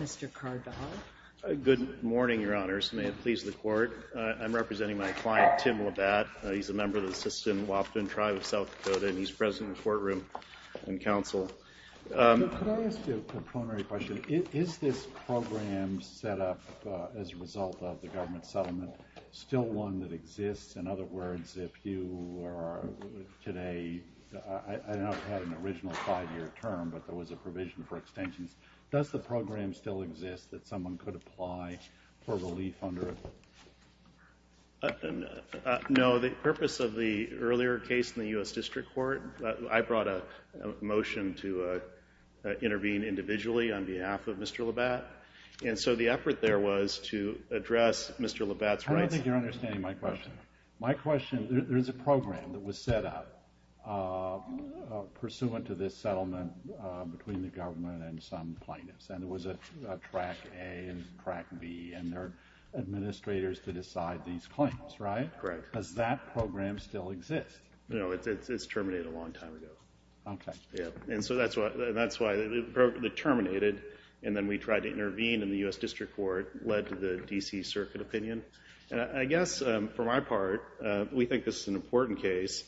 Mr. Cardaw. Good morning, Your Honors. May it please the Court. I'm representing my client, Tim LaBatte. He's a member of the Sisseton-Wapton Tribe of South Dakota, and he's present in the Could I ask you a preliminary question? Is this program set up as a result of the government settlement still one that exists? In other words, if you are today, I don't know if you had an original five-year term, but there was a provision for extensions. Does the program still exist that someone could apply for relief under it? No, the purpose of the earlier case in the U.S. intervened individually on behalf of Mr. LaBatte, and so the effort there was to address Mr. LaBatte's rights. I don't think you're understanding my question. My question, there's a program that was set up pursuant to this settlement between the government and some plaintiffs, and it was a Track A and Track B, and there are administrators to decide these claims, right? Correct. Does that That's why the program terminated, and then we tried to intervene in the U.S. District Court, led to the D.C. Circuit opinion, and I guess for my part, we think this is an important case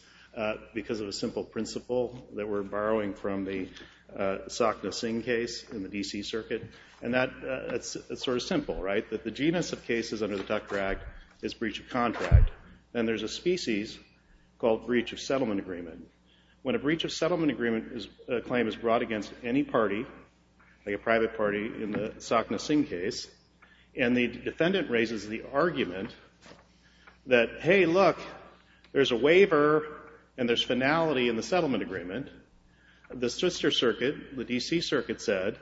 because of a simple principle that we're borrowing from the Sakhna Singh case in the D.C. Circuit, and that's sort of simple, right? That the genus of cases under the Tucker Act is breach of contract, and there's a species called breach of settlement agreement. When a breach of settlement agreement claim is brought against any party, like a private party in the Sakhna Singh case, and the defendant raises the argument that, hey, look, there's a waiver and there's finality in the settlement agreement, the Switzer Circuit, the D.C. Circuit said,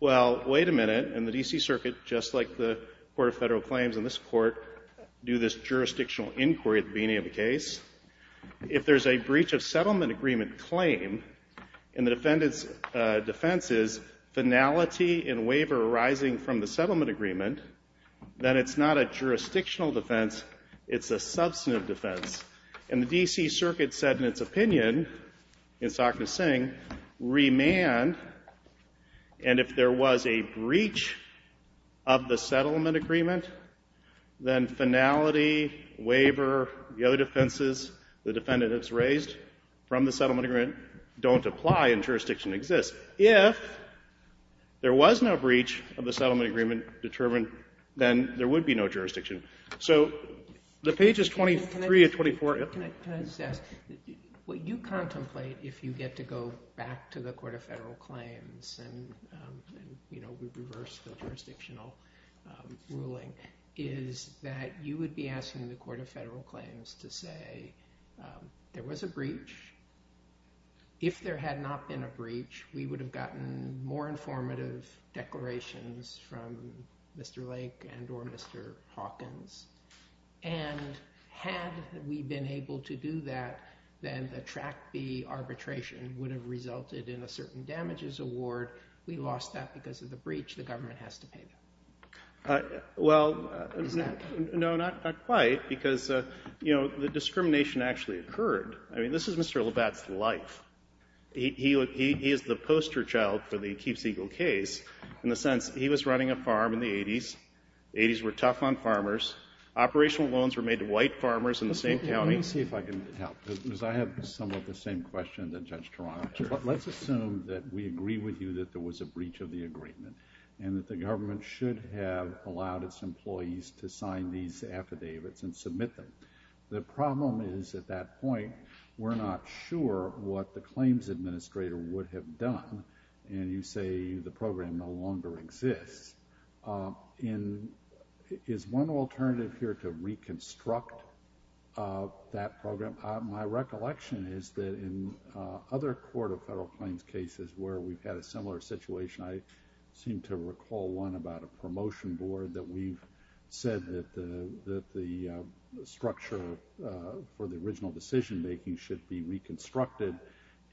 well, wait a minute, and the D.C. Circuit, just like the Court of Federal Claims and this Court, do this jurisdictional inquiry at the beginning of the case. If there's a breach of settlement agreement claim, and the defendant's defense is finality and waiver arising from the settlement agreement, then it's not a jurisdictional defense, it's a substantive defense, and the D.C. Circuit said in its opinion in Sakhna Singh, remand, and if there was a breach of the settlement agreement, then finality, waiver, the other defenses, the defendant that's raised from the settlement agreement don't apply and jurisdiction exists. If there was no breach of the settlement agreement determined, then there would be no jurisdiction. So the pages 23 and 24. Can I just ask, what you contemplate if you get to go back to the Court of Federal Claims and, we reverse the jurisdictional ruling, is that you would be asking the Court of Federal Claims to say there was a breach. If there had not been a breach, we would have gotten more informative declarations from Mr. Lake and or Mr. Hawkins, and had we been able to do that, then the Track would have resulted in a certain damages award. We lost that because of the breach, the government has to pay. Well, no, not quite, because, you know, the discrimination actually occurred. I mean, this is Mr. Labatt's life. He is the poster child for the Keeps Eagle case in the sense he was running a farm in the 80s. The 80s were tough on farmers. Operational loans were made to white farmers in the same county. Let me see if I can help, because I have somewhat the same question that Judge Toronto has. Let's assume that we agree with you that there was a breach of the agreement, and that the government should have allowed its employees to sign these affidavits and submit them. The problem is, at that point, we're not sure what the claims administrator would have done, and you say the program no longer exists. Is one alternative here to reconstruct that program? My recollection is that in other court of federal claims cases where we've had a similar situation, I seem to recall one about a promotion board that we've said that the structure for the original decision making should be reconstructed,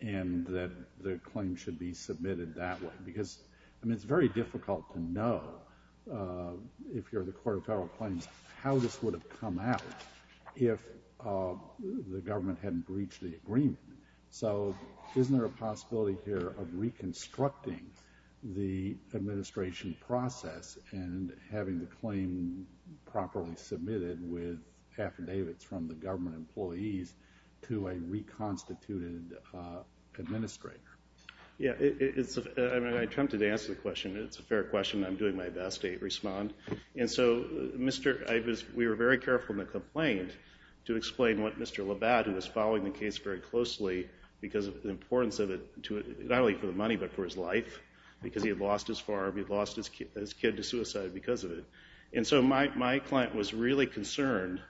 and that the claim should be submitted that way, because, I mean, it's very difficult to know, if you're the court of federal claims, how this would have come out if the government hadn't breached the agreement. So, isn't there a possibility here of reconstructing the administration process and having the claim properly submitted with affidavits from the government employees to a reconstituted administrator? Yeah, it's, I mean, I attempted to answer the question. It's a fair question. I'm doing my best to respond, and so, Mr., I was, we were very careful in the complaint to explain what Mr. Labatt, who was following the case very closely because of the importance of it to, not only for the money, but for his life, because he had lost his farm. He lost his kid to suicide because of it, and so my client was really concerned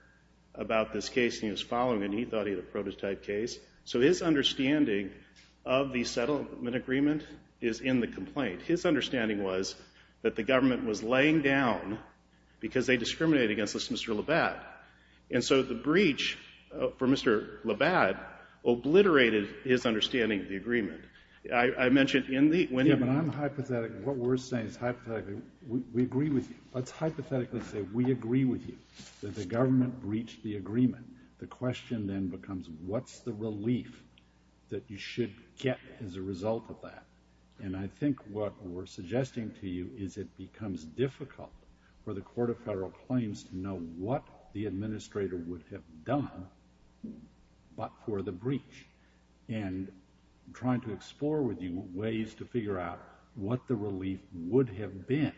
about this case he was following, and he thought he had a prototype case. So, his understanding of the settlement agreement is in the complaint. His understanding was that the government was laying down because they discriminated against this Mr. Labatt, and so the breach for Mr. Labatt obliterated his understanding of the agreement. I mentioned in the... Yeah, but I'm hypothetical. What we're saying is, hypothetically, we agree with you. Let's hypothetically say we agree with you that the government breached the agreement. The question then becomes, what's the relief that you should get as a result of that, and I think what we're suggesting to you is it becomes difficult for the Court of Federal Claims to know what the administrator would have done but for the breach, and I'm trying to explore with you ways to figure out what the relief would have been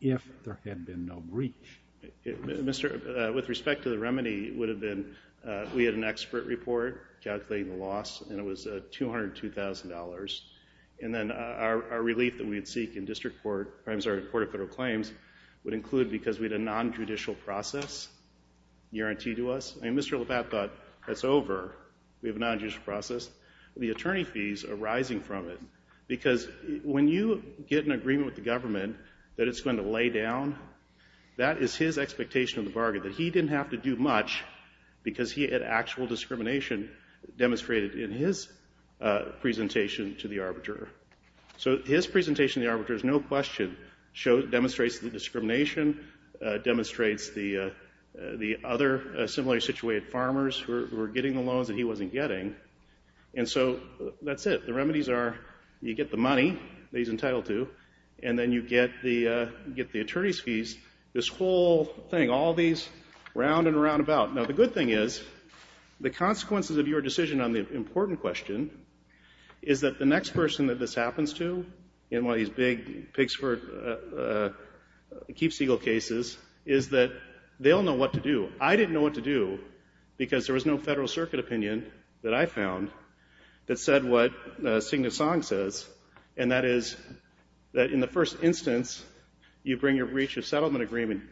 if there had been no breach. Mr., with respect to the remedy, it would have been, we had an expert report calculating the loss, and it was $202,000, and then our relief that we'd seek in District Court, or I'm sorry, Court of Federal Claims, would include, because we had a non-judicial process guaranteed to us, and Mr. Labatt thought, that's over. We have a non-judicial process. The attorney fees are rising from it because when you get an agreement with the government that it's going to lay down, that is his expectation of the bargain, that he didn't have to do much because he had actual discrimination demonstrated in his presentation to the arbiter. So his presentation to the arbiters, no question, demonstrates the discrimination, demonstrates the other similarly situated farmers who were getting the loans that he wasn't getting, and so that's it. The remedies are you get the money that he's entitled to, and then you get the attorney's fees, this whole thing, all these round and roundabout. Now, the good thing is the consequences of your decision on the important question is that the next person that this happens to, in one of these big Pigsford, Keeps Eagle cases, is that they'll know what to do. I didn't know what to do because there was no Federal Circuit opinion that I found that said what Signet-Song says, and that is that in the first instance, you bring your breach of settlement agreement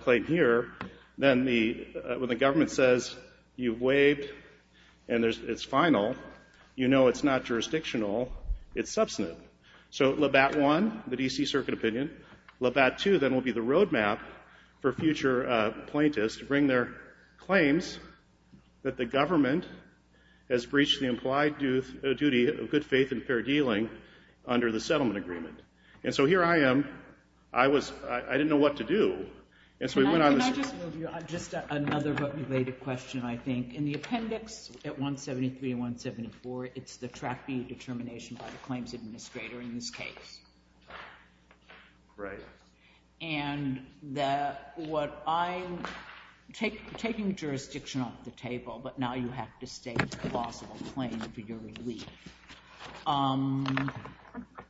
claim here, then when the government says you've waived and it's final, you know it's not so. Labatt 1, the D.C. Circuit opinion. Labatt 2 then will be the road map for future plaintiffs to bring their claims that the government has breached the implied duty of good faith and fair dealing under the settlement agreement. And so here I am, I was, I didn't know what to do, and so we went on. Can I just move you on just another but related question, I think. In the case. Right. And what I'm taking jurisdiction off the table, but now you have to state a possible claim for your relief.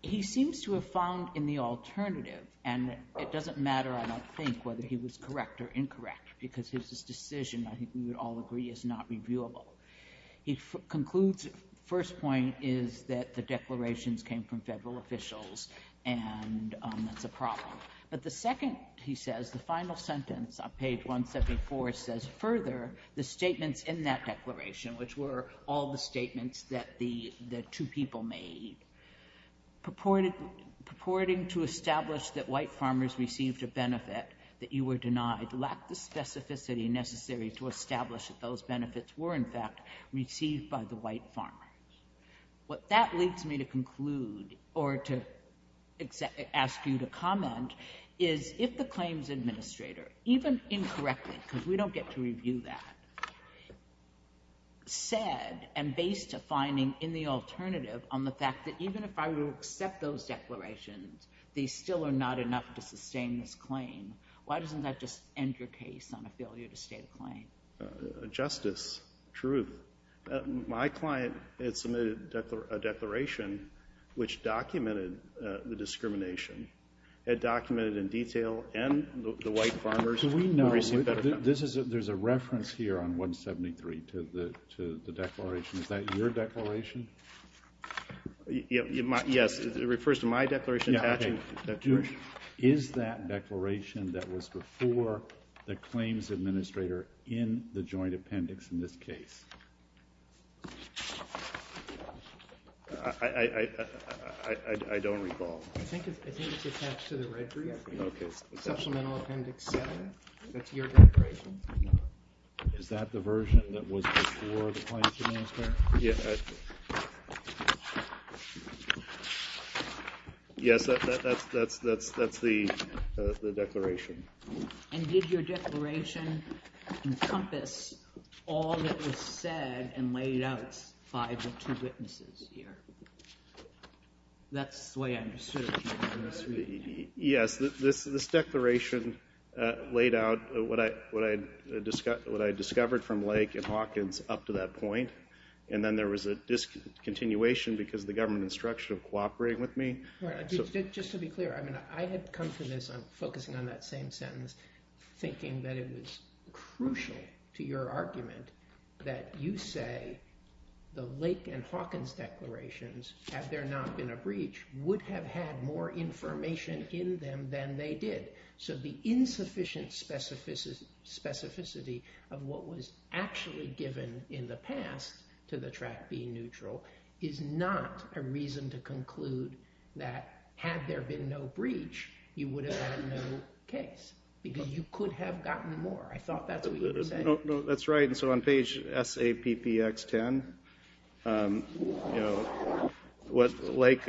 He seems to have found in the alternative, and it doesn't matter, I don't think, whether he was correct or incorrect, because his decision, I think we would all agree, is not viewable. He concludes, first point is that the declarations came from federal officials, and that's a problem. But the second, he says, the final sentence on page 174 says further, the statements in that declaration, which were all the statements that the two people made, purporting to establish that white farmers received a benefit that you were denied, lacked the specificity necessary to establish that those benefits were, in fact, received by the white farmers. What that leads me to conclude, or to ask you to comment, is if the claims administrator, even incorrectly, because we don't get to review that, said, and based a finding in the alternative on the fact that even if I will accept those on a failure to state a claim. Justice, truth. My client had submitted a declaration which documented the discrimination, had documented in detail, and the white farmers could receive better benefits. There's a reference here on 173 to the declaration. Is that your declaration? Yes. It refers to my declaration. Yeah, okay. Is that declaration that was before the claims administrator in the joint appendix in this case? I don't recall. I think it's attached to the red brief. Okay. Supplemental appendix seven. That's your declaration. Is that the version that was before the claim? That's the declaration. Did your declaration encompass all that was said and laid out by the two witnesses here? That's the way I understood it. Yes. This declaration laid out what I discovered from Lake and Hawkins up to that point, and then there was a discontinuation because of the government instruction of cooperating with me. Just to be clear, I had come to this, I'm focusing on that same sentence, thinking that it was crucial to your argument that you say the Lake and Hawkins declarations, had there not been a breach, would have had more information in them than they did. So the insufficient specificity of what was actually given in the past to the track being neutral is not a reason to conclude that had there been no breach, you would have had no case because you could have gotten more. I thought that's what you were saying. No, that's right. And so on page SAPPX10, what Lake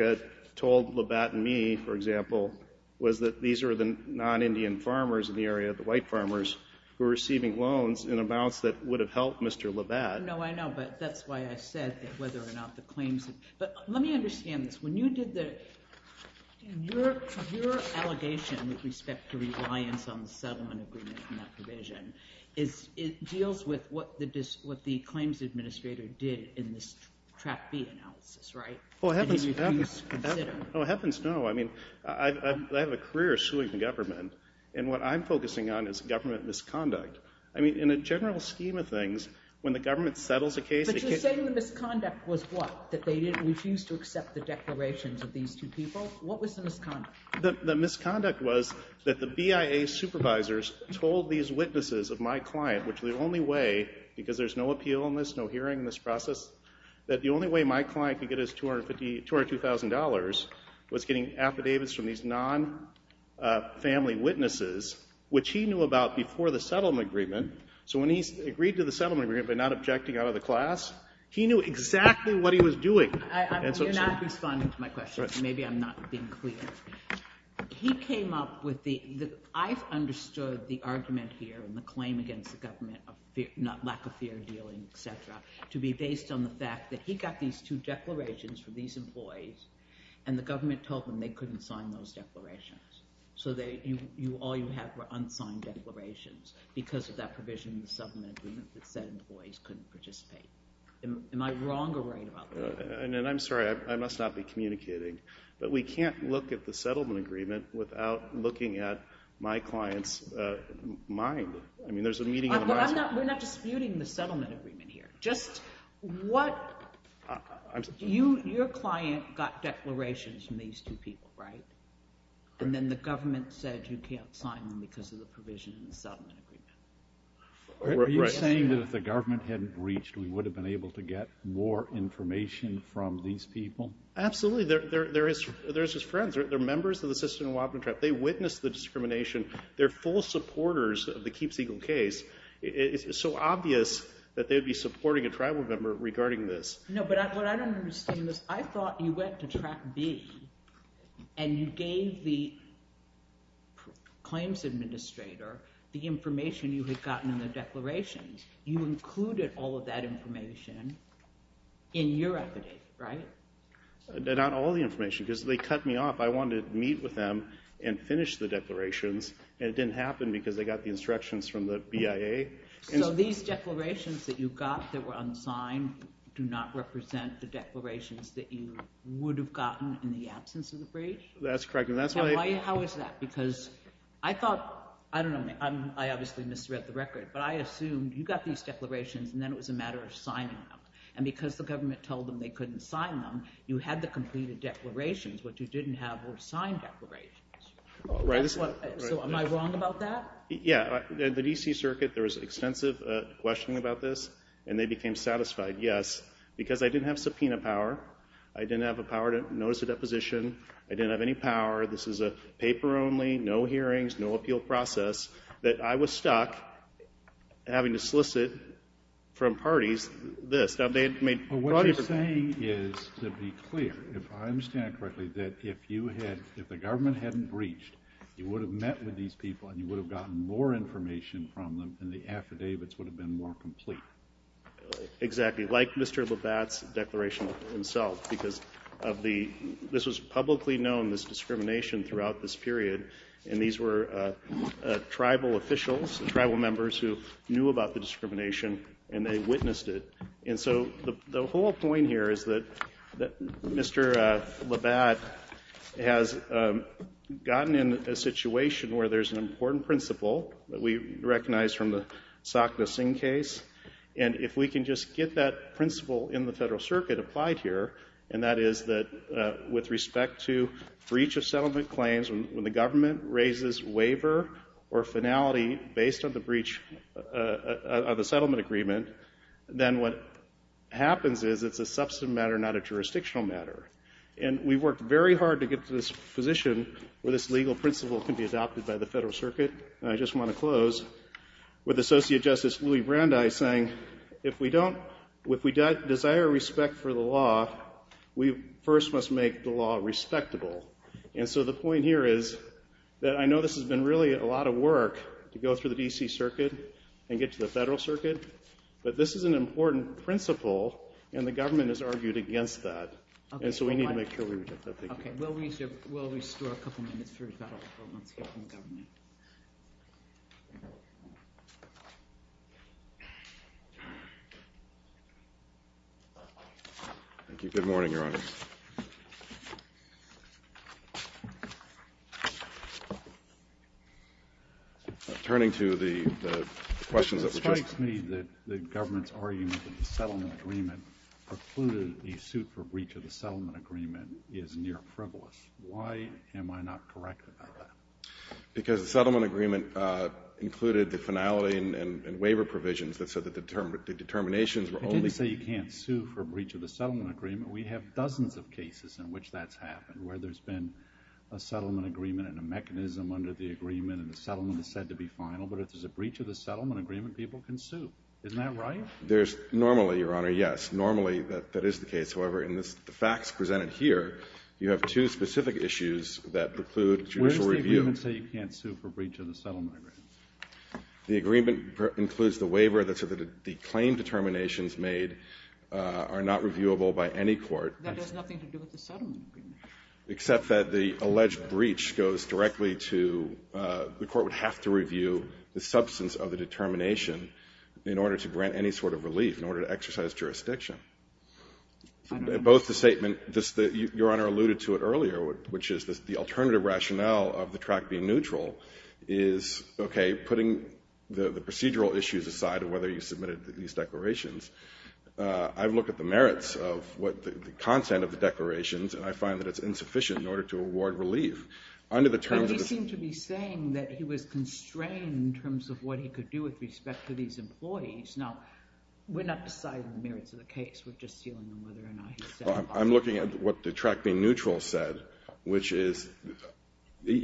told Labatt and me, for example, was that these are the non-Indian farmers in the area, the white farmers, who are receiving loans in amounts that would have helped Mr. Labatt. No, I know, but that's why I said whether or not the claims... But let me understand this. When you did your allegation with respect to reliance on the settlement agreement and that provision, it deals with what the claims administrator did in this Track B analysis, right? Well, heavens no. I mean, I have a career assuaging government, and what I'm focusing on is government misconduct. I mean, in a general scheme of things, when the government settles a case... But you're saying the misconduct was what, that they didn't refuse to accept the declarations of these two people? What was the misconduct? The misconduct was that the BIA supervisors told these witnesses of my client, which the only way, because there's no appeal in this, no hearing in this process, that the only way my client could get his $202,000 was getting affidavits from these non-family witnesses, which he knew about before the settlement agreement. So when he agreed to the settlement agreement by not objecting out of the class, he knew exactly what he was doing. You're not responding to my question. Maybe I'm not being clear. He came up with the... I've understood the argument here and the claim against the government of lack of fair dealing, et cetera, to be based on the fact that he got these two declarations from these employees, and the government told them they couldn't sign those declarations. So all you have were unsigned declarations because of that provision in the settlement agreement that said employees couldn't participate. Am I wrong or right about that? And I'm sorry, I must not be communicating, but we can't look at the settlement agreement without looking at my client's mind. I mean, there's a meeting... We're not disputing the settlement agreement here. Just what... Your client got declarations from these two people, right? And then the government said you can't sign them because of the provision in the settlement agreement. Are you saying that if the government hadn't breached, we would have been able to get more information from these people? Absolutely. They're just friends. They're members of the system in Wabuntrap. They witnessed the discrimination. They're full supporters of the Keeps Eagle case. It's so obvious that they'd be supporting a tribal member regarding this. No, but what I don't understand is I thought you went to Track B and you gave the claims administrator the information you had gotten in the declarations. You included all of that information in your affidavit, right? Not all the information because they cut me and finished the declarations and it didn't happen because they got the instructions from the BIA. So these declarations that you got that were unsigned do not represent the declarations that you would have gotten in the absence of the breach? That's correct. Now, how is that? Because I thought... I don't know. I obviously misread the record, but I assumed you got these declarations and then it was a matter of signing them. And because the government told them they couldn't sign them, you had the completed declarations. What you didn't have were signed declarations. Am I wrong about that? Yeah. The D.C. Circuit, there was extensive questioning about this and they became satisfied, yes, because I didn't have subpoena power. I didn't have a power to notice a deposition. I didn't have any power. This is a paper only, no hearings, no appeal process, that I was stuck having to solicit from parties this. Now, they had made... What you're saying is, to be clear, if I understand it correctly, that if you had... if the government hadn't breached, you would have met with these people and you would have gotten more information from them and the affidavits would have been more complete. Exactly. Like Mr. Labatt's declaration himself, because of the... this was publicly known, this discrimination throughout this period, and these were tribal officials, tribal members who knew about the discrimination and they witnessed it. And so, the whole point here is that Mr. Labatt has gotten in a situation where there's an important principle that we recognize from the Sak-Nah-Singh case, and if we can just get that principle in the Federal Circuit applied here, and that is that with respect to breach of settlement claims, when the government raises waiver or finality based on the breach of the settlement agreement, then what happens is it's a substantive matter, not a jurisdictional matter. And we worked very hard to get to this position where this legal principle can be adopted by the Federal Circuit, and I just want to close with Associate Justice Louis Brandeis saying, if we don't... if we desire respect for the law, we first must make the law respectable. And so, the point here is that I know this has been really a lot of work to go through the D.C. Circuit and get to the Federal Circuit, but this is an important principle, and the government has argued against that, and so we need to make sure we get that. Okay, we'll restore a couple minutes for a couple of moments here from the government. Thank you. Good morning, Your Honor. Turning to the questions that were just... It strikes me that the government's argument that the settlement agreement precluded the suit for breach of the settlement agreement is near-privilege. Why am I not correct about that? Because the settlement agreement included the finality and waiver provisions that said that the determinations were only... I didn't say you can't sue for breach of the settlement agreement. We have dozens of cases in which that's happened, where there's been a settlement agreement and a mechanism under the agreement, and the settlement is said to be final, but if there's a breach of the settlement agreement, people can sue. Isn't that right? Normally, Your Honor, yes. Normally, that is the case. However, in the facts presented here, you have two specific issues that preclude judicial review. Where does the agreement say you can't sue for breach of the settlement agreement? The agreement includes the waiver that said that the claim determinations made are not reviewable by any court. That has nothing to do with the settlement agreement. Except that the alleged breach goes directly to... The court would have to review the substance of the determination in order to grant any sort of relief, in order to exercise jurisdiction. Both the statement... Your Honor alluded to it earlier, which is the alternative rationale of the track being neutral is, okay, putting the procedural issues aside of whether you submitted these declarations. I've looked at the merits of what the content of the declarations, and I find that it's insufficient in order to award relief. Under the terms of... With respect to these employees. Now, we're not deciding the merits of the case. We're just dealing with whether or not he said... I'm looking at what the track being neutral said, which is... If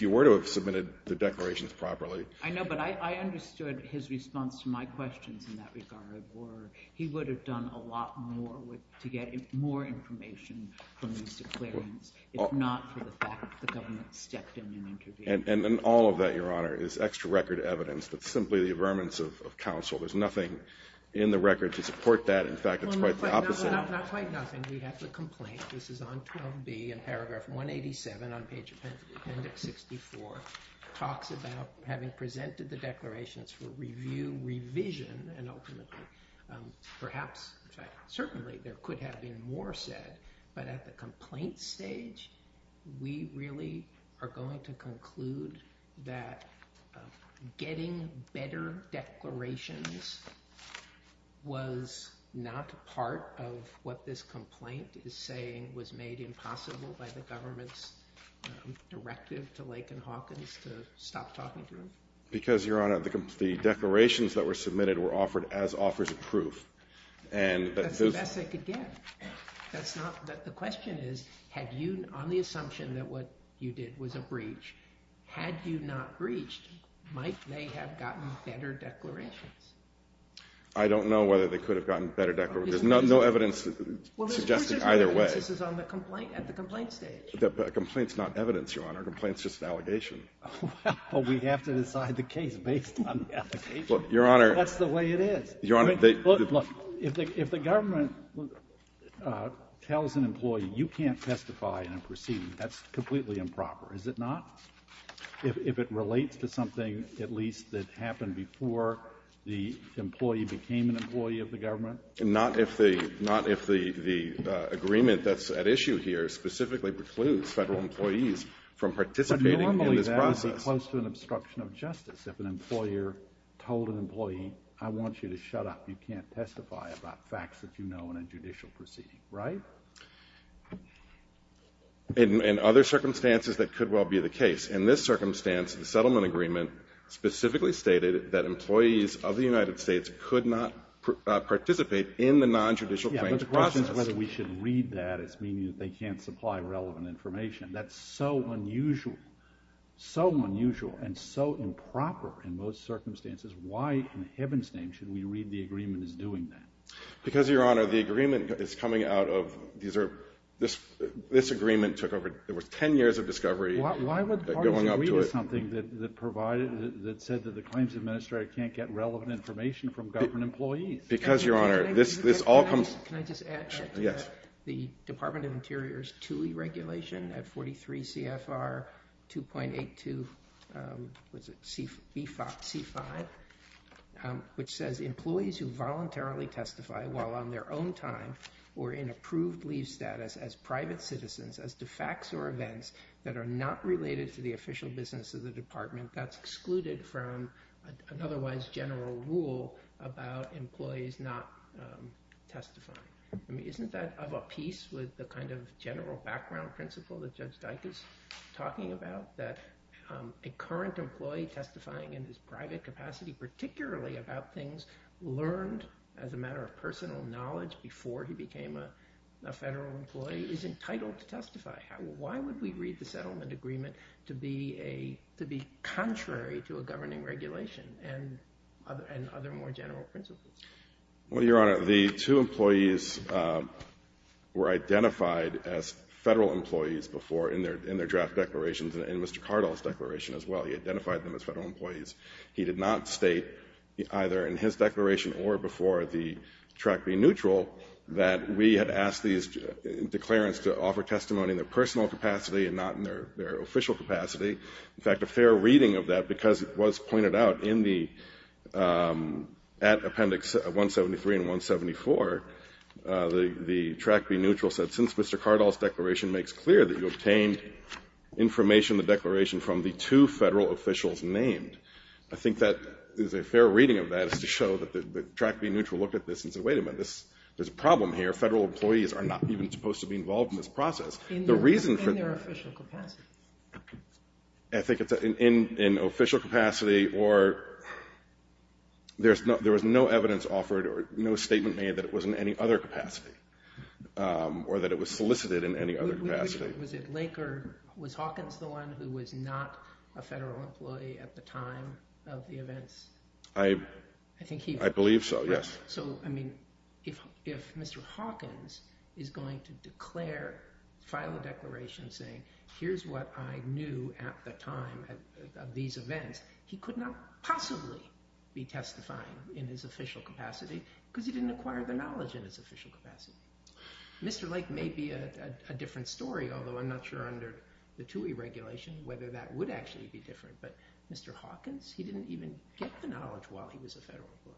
you were to have submitted the declarations properly... I know, but I understood his response to my questions in that regard, or he would have done a lot more to get more information from these declarations, if not for the fact that the government stepped in and intervened. And all of that, Your Honor, is extra record evidence that's simply the affirmance of counsel. There's nothing in the record to support that. In fact, it's quite the opposite. Not quite nothing. We have the complaint. This is on term B, in paragraph 187 on page appendix 64, talks about having presented the declarations for review, revision, and ultimately, perhaps, certainly, there could have been more said. But at the complaint stage, we really are going to conclude that getting better declarations was not part of what this complaint is saying was made impossible by the government's directive to Lake and Hawkins to stop talking to him. Because, Your Honor, the declarations that were submitted were offered as offers of proof. That's the best they could get. The question is, on the assumption that what you did was a breach, had you not breached, might they have gotten better declarations? I don't know whether they could have gotten better declarations. There's no evidence suggesting either way. This is at the complaint stage. Complaint's not evidence, Your Honor. Complaint's just an allegation. Well, we have to decide the case based on the allegation. Well, Your Honor. That's the way it is. Your Honor, they — Look, look. If the government tells an employee, you can't testify in a proceeding, that's completely improper, is it not? If it relates to something, at least, that happened before the employee became an employee of the government? Not if the — not if the agreement that's at issue here specifically precludes Federal employees from participating in this proceeding. That would be close to an obstruction of justice. If an employer told an employee, I want you to shut up, you can't testify about facts that you know in a judicial proceeding, right? In other circumstances, that could well be the case. In this circumstance, the settlement agreement specifically stated that employees of the United States could not participate in the non-judicial claims process. Yeah, but the question is whether we should read that as meaning that they can't supply relevant information. That's so unusual, so unusual, and so improper in most circumstances. Why in heaven's name should we read the agreement as doing that? Because, Your Honor, the agreement is coming out of — these are — this agreement took over — there was 10 years of discovery going up to it. Why would the parties agree to something that provided — that said that the claims administrator can't get relevant information from government employees? Because, Your Honor, this all comes — Can I just add to that? Yes. The Department of Interior's TUI regulation at 43 CFR 2.82 — what's it? C5 — which says, employees who voluntarily testify while on their own time or in approved leave status as private citizens as to facts or events that are not related to the official business of the department, that's excluded from an otherwise general rule about employees not testifying. I mean, isn't that of a piece with the kind of general background principle that Judge Dike is talking about, that a current employee testifying in his private capacity, particularly about things learned as a matter of personal knowledge before he became a federal employee, is entitled to testify? Why would we read the settlement agreement to be a — to be contrary to a governing regulation and other more general principles? Well, Your Honor, the two employees were identified as federal employees before in their draft declarations and in Mr. Cardall's declaration as well. He identified them as federal employees. He did not state, either in his declaration or before the track being neutral, that we had asked these declarants to offer testimony in their personal capacity and not in their official capacity. In fact, a fair reading of that, because it was pointed out in the — at Appendix 173 and 174, the track being neutral said, since Mr. Cardall's declaration makes clear that you obtained information in the declaration from the two federal officials named, I think that is a fair reading of that is to show that the track being neutral looked at this and said, wait a minute, this — there's a problem here. Federal employees are not even supposed to be involved in this I think it's in official capacity or there's no — there was no evidence offered or no statement made that it was in any other capacity or that it was solicited in any other capacity. Was it Laker — was Hawkins the one who was not a federal employee at the time of the events? I — I think he — I believe so, yes. So, I mean, if — if Mr. Hawkins is going to declare — file a declaration saying, here's what I knew at the time of these events, he could not possibly be testifying in his official capacity because he didn't acquire the knowledge in his official capacity. Mr. Lake may be a different story, although I'm not sure under the TUI regulation whether that would actually be different, but Mr. Hawkins, he didn't even get the knowledge while he was a federal employee.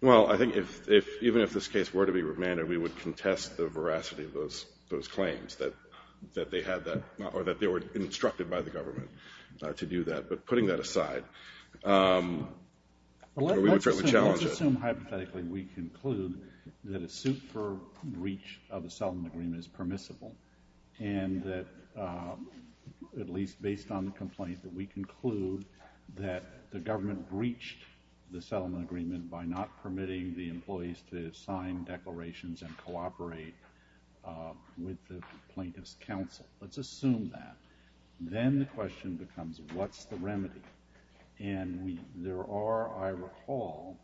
Well, I think if — if — even if this case were to be remanded, we would contest the veracity of those — those claims that — that they had that — or that they were instructed by the government to do that, but putting that aside, we would certainly challenge it. Let's assume hypothetically we conclude that a suit for breach of the settlement agreement is permissible and that, at least based on the complaint, that we conclude that the government breached the settlement agreement by not permitting the employees to sign declarations and cooperate with the plaintiff's counsel. Let's assume that. Then the question becomes, what's the remedy? And we — there are, I recall,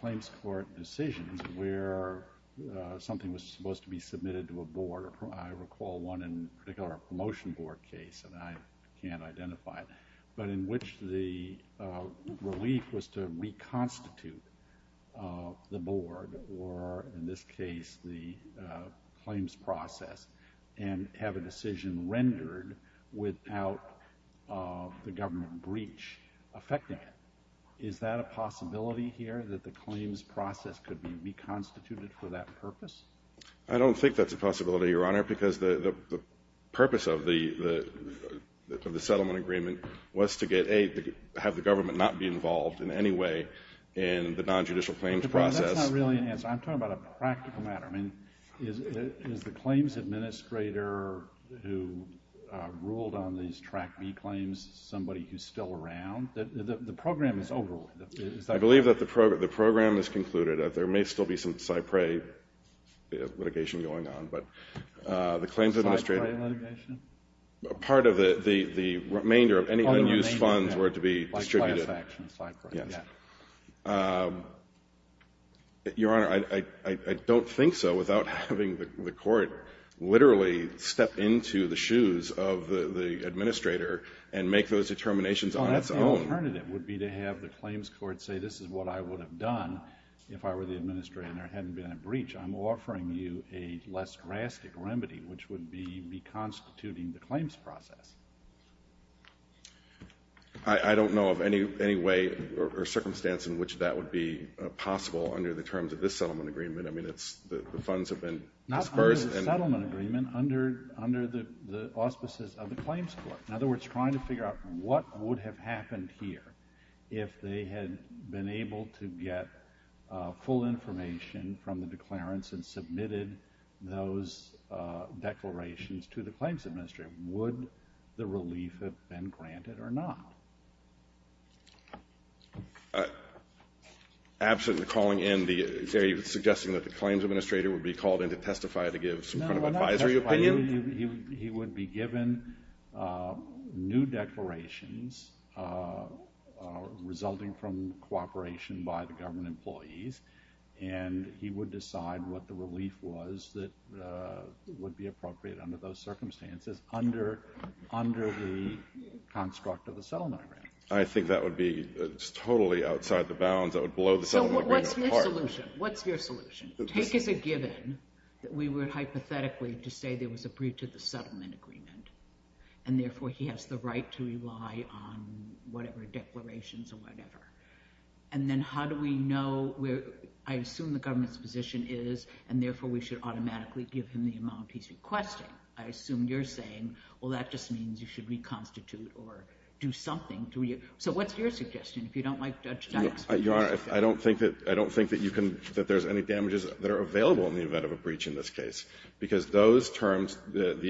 claims court decisions where something was supposed to be submitted to a board — I recall one in particular, a promotion board case, and I believe was to reconstitute the board or, in this case, the claims process and have a decision rendered without the government breach affecting it. Is that a possibility here, that the claims process could be reconstituted for that purpose? I don't think that's a possibility, Your Honor, because the purpose of the settlement agreement was to get, A, have the government not be involved in any way in the nonjudicial claims process. That's not really an answer. I'm talking about a practical matter. I mean, is the claims administrator who ruled on these Track B claims somebody who's still around? The program is over. I believe that the program is concluded. There may still be some CyPRAE litigation going on, but the claims administrator — CyPRAE litigation? Part of the remainder of any unused funds were to be distributed. Like class action, CyPRAE. Yes. Your Honor, I don't think so without having the court literally step into the shoes of the administrator and make those determinations on its own. Well, that's the alternative, would be to have the claims court say, this is what I would have done if I were the administrator and there hadn't been a breach. I'm offering you a less drastic remedy, which would be reconstituting the claims process. I don't know of any way or circumstance in which that would be possible under the terms of this settlement agreement. I mean, the funds have been disbursed. Not under the settlement agreement, under the auspices of the claims court. In other words, trying to figure out what would have happened here if they had been able to get full information from the declarants and submitted those declarations to the claims administrator. Would the relief have been granted or not? Absent the calling in, are you suggesting that the claims administrator would be called in to testify to give some kind of advisory opinion? He would be given new declarations resulting from cooperation by the government employees, and he would decide what the relief was that would be appropriate under those circumstances, under the construct of the settlement agreement. I think that would be totally outside the bounds. That would blow the settlement agreement apart. What's your solution? Take as a given that we were hypothetically to say there was a breach of the settlement agreement, and therefore he has the right to rely on whatever declarations or whatever. And then how do we know where, I assume the government's position is, and therefore we should automatically give him the amount he's requesting. I assume you're saying, well, that just means you should reconstitute or do something. So what's your suggestion? If you don't like Judge Dyck's suggestion. Your Honor, I don't think that you can, that there's any damages that are available in the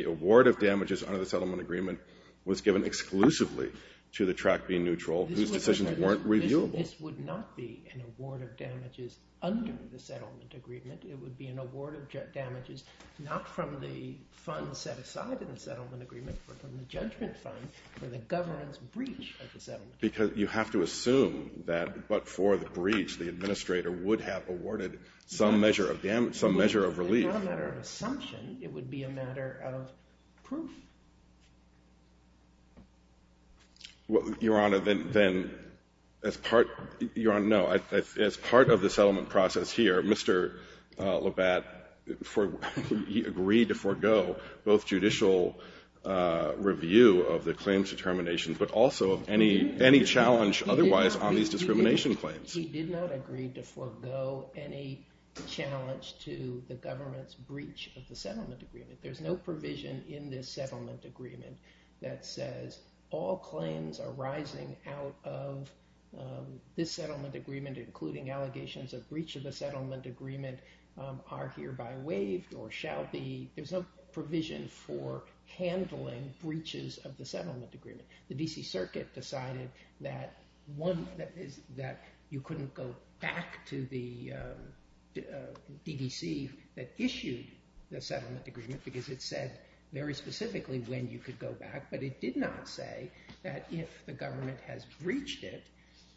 award of damages under the settlement agreement was given exclusively to the track being neutral, whose decisions weren't reviewable. This would not be an award of damages under the settlement agreement. It would be an award of damages not from the funds set aside in the settlement agreement, but from the judgment fund for the government's breach of the settlement agreement. Because you have to assume that, but for the breach, the administrator would have awarded some measure of relief. It's not a matter of assumption. It would be a matter of proof. Your Honor, then as part of the settlement process here, Mr. Labatt, he agreed to forgo both judicial review of the claims determinations, but also any challenge otherwise on these discrimination claims. He did not agree to forego any challenge to the government's breach of the settlement agreement. There's no provision in this settlement agreement that says all claims arising out of this settlement agreement, including allegations of breach of the settlement agreement, are hereby waived or shall be. There's no provision for handling breaches of the settlement agreement. The DC Circuit decided that you couldn't go back to the DDC that issued the settlement agreement because it said very specifically when you could go back. But it did not say that if the government has breached it,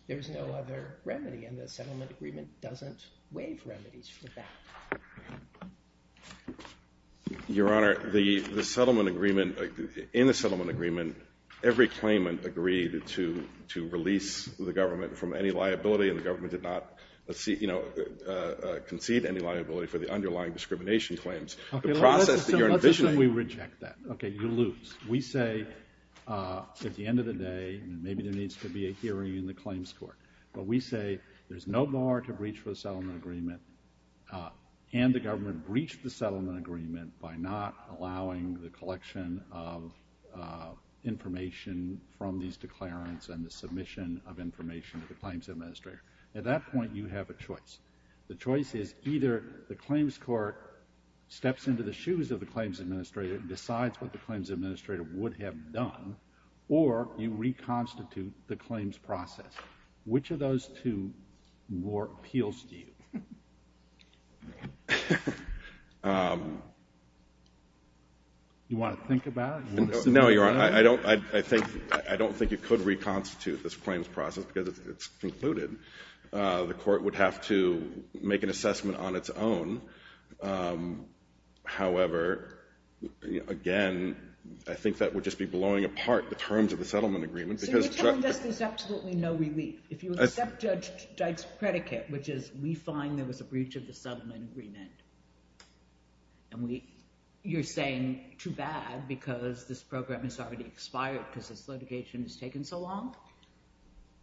there is no other remedy. And the settlement agreement doesn't waive remedies for that. Your Honor, in the settlement agreement, every claimant agreed to release the government from any liability, and the government did not concede any liability for the underlying discrimination claims. The process that you're envisioning— OK, let's assume we reject that. OK, you lose. We say at the end of the day, and maybe there needs to be a hearing in the claims court, but we say there's no bar to and the government breached the settlement agreement by not allowing the collection of information from these declarants and the submission of information to the claims administrator. At that point, you have a choice. The choice is either the claims court steps into the shoes of the claims administrator and decides what the claims administrator would have done, or you reconstitute the claims process. Which of those two more appeals to you? Do you want to think about it? No, Your Honor. I don't think it could reconstitute this claims process because it's concluded. The court would have to make an assessment on its own. However, again, I think that would just be blowing apart the terms of the settlement agreement. So you're telling us there's absolutely no relief? If you accept Judge Deitch's predicate, which is we find there was a breach of the settlement agreement, and you're saying too bad because this program has already expired because this litigation has taken so long?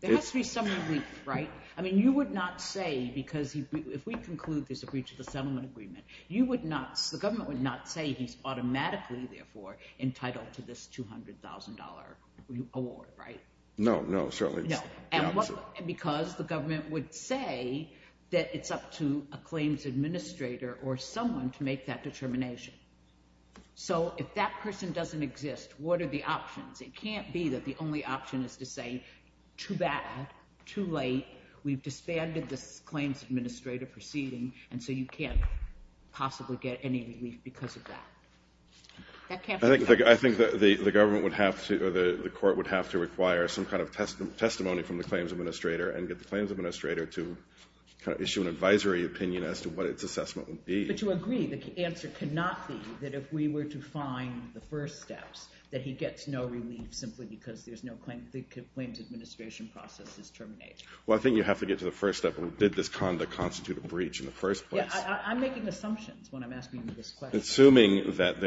There has to be some relief, right? I mean, you would not say, because if we conclude there's a breach of the settlement agreement, the government would not say he's automatically, therefore, entitled to this $200,000 award, right? No, no, certainly not. Because the government would say that it's up to a claims administrator or someone to make that determination. So if that person doesn't exist, what are the options? It can't be that the only option is to say, too bad, too late, we've disbanded this claims administrator proceeding, and so you can't possibly get any relief because of that. I think the court would have to require some kind of testimony from the claims administrator and get the claims administrator to issue an advisory opinion as to what its assessment would be. But to agree, the answer could not be that if we were to find the first steps, that he gets no relief simply because the claims administration process is terminated. Well, I think you have to get to the first step. Did this conduct constitute a breach in the first place? Yeah, I'm making assumptions when I'm asking you this question. Assuming that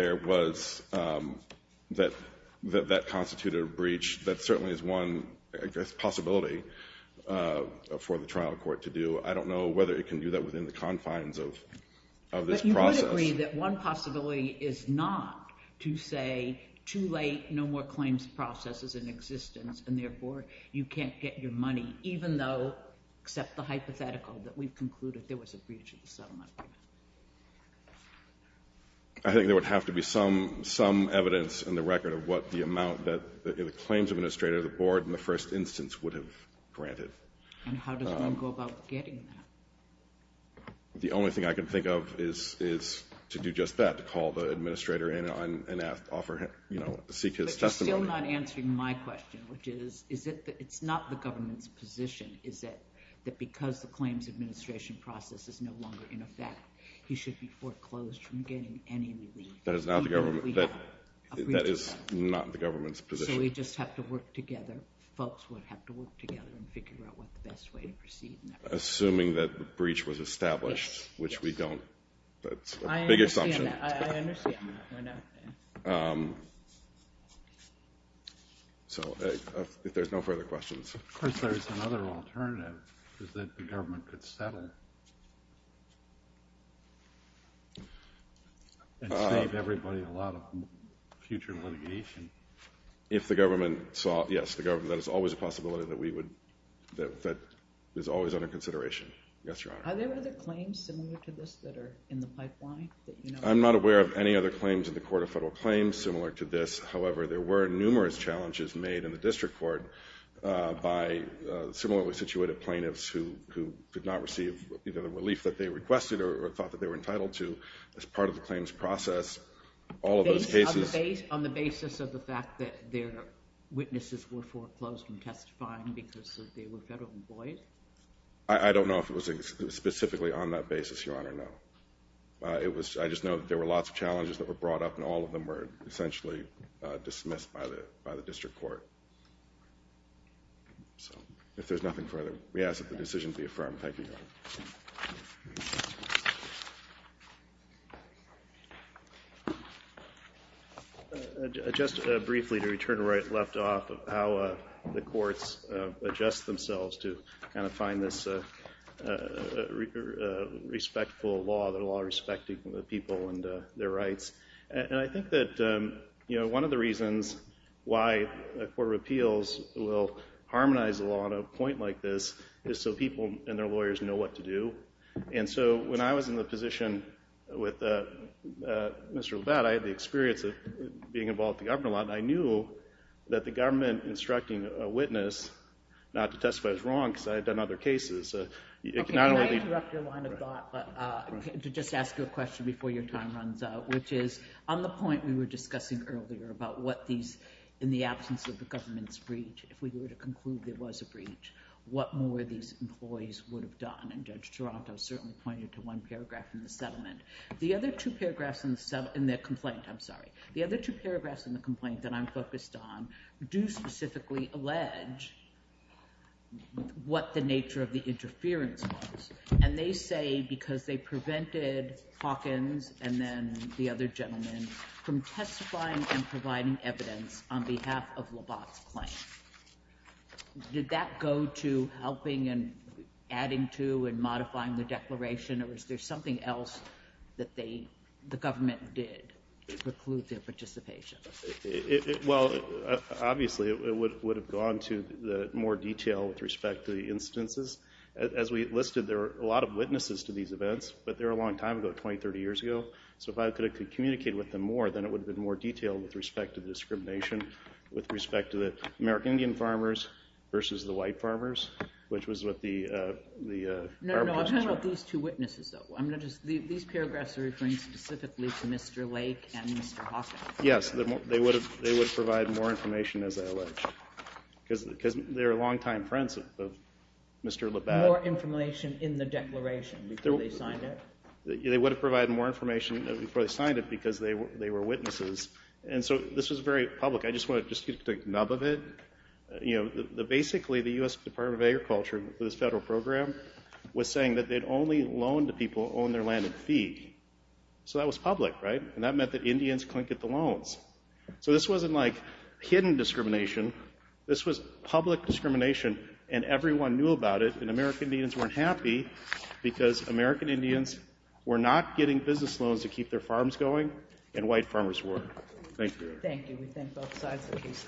that constituted a breach, that certainly is one possibility for the trial court to do. I don't know whether it can do that within the confines of this process. But you would agree that one possibility is not to say, too late, no more claims process is in existence, and therefore, you can't get your money, even though, except the hypothetical that we've concluded, there was a breach in the settlement. I think there would have to be some evidence in the record of what the amount that the claims administrator, the board, in the first instance would have granted. And how does one go about getting that? The only thing I can think of is to do just that, to call the administrator in and ask, offer, you know, seek his testimony. But you're still not answering my question, which is, is it that it's not the government's position, is it, that because the claims administration process is no longer in effect, he should be foreclosed from getting any relief? That is not the government, that is not the government's position. So we just have to work together, folks would have to work together and figure out what the best way to proceed. Assuming that the breach was established, which we don't, that's a big assumption. I understand that. So if there's no further questions. Of course, there's another alternative, is that the government could settle and save everybody a lot of future litigation. If the government saw, yes, the government, that is always a possibility that we would, that is always under consideration. Yes, Your Honor. Are there other claims similar to this that are in the pipeline? I'm not aware of any other claims in the Court of Federal Claims similar to this. However, there were numerous challenges made in the district court by similarly situated plaintiffs who could not receive either the relief that they requested or thought that they were entitled to as part of the claims process. On the basis of the fact that their witnesses were foreclosed from testifying because they were federal employees? I don't know if it was specifically on that basis, Your Honor, no. It was, I just know that there were lots of challenges that were brought up and all of them essentially dismissed by the district court. So if there's nothing further, we ask that the decision be affirmed. Thank you, Your Honor. Just briefly to return to where I left off, how the courts adjust themselves to kind of find this respectful law, the law respecting the people and their rights. And I think that, you know, one of the reasons why a court of appeals will harmonize the law on a point like this is so people and their lawyers know what to do. And so when I was in the position with Mr. Labatt, I had the experience of being involved with the government a lot and I knew that the government instructing a witness not to testify was wrong because I had done other cases. Okay, can I interrupt your line of thought to just ask you a question before your time runs out, which is on the point we were discussing earlier about what these, in the absence of the government's breach, if we were to conclude there was a breach, what more these employees would have done? And Judge Toronto certainly pointed to one paragraph in the settlement. The other two paragraphs in the settlement, in the complaint, I'm sorry, the other two paragraphs in the complaint that I'm not sure specifically allege what the nature of the interference was. And they say because they prevented Hawkins and then the other gentlemen from testifying and providing evidence on behalf of Labatt's claim. Did that go to helping and adding to and modifying the declaration or is there something else that they, the government did to preclude their participation? Well, obviously it would have gone to the more detail with respect to the instances. As we listed, there are a lot of witnesses to these events, but they're a long time ago, 20, 30 years ago. So if I could have communicated with them more, then it would have been more detailed with respect to the discrimination, with respect to the American Indian farmers versus the white farmers, which was what the... No, no, I'm talking about these two witnesses though. I'm not just, these paragraphs are referring specifically to Mr. Lake and Mr. Hawkins. Yes, they would have, more information as I allege, because they're long time friends of Mr. Labatt. More information in the declaration before they signed it? They would have provided more information before they signed it because they were witnesses. And so this was very public. I just want to just get a nub of it. Basically, the US Department of Agriculture, this federal program, was saying that they'd only loan to people on their landed feed. So that was public, right? And that meant that Indians couldn't get the loans. So this wasn't like hidden discrimination. This was public discrimination, and everyone knew about it, and American Indians weren't happy because American Indians were not getting business loans to keep their farms going, and white farmers were. Thank you. Thank you. We thank both sides of the case.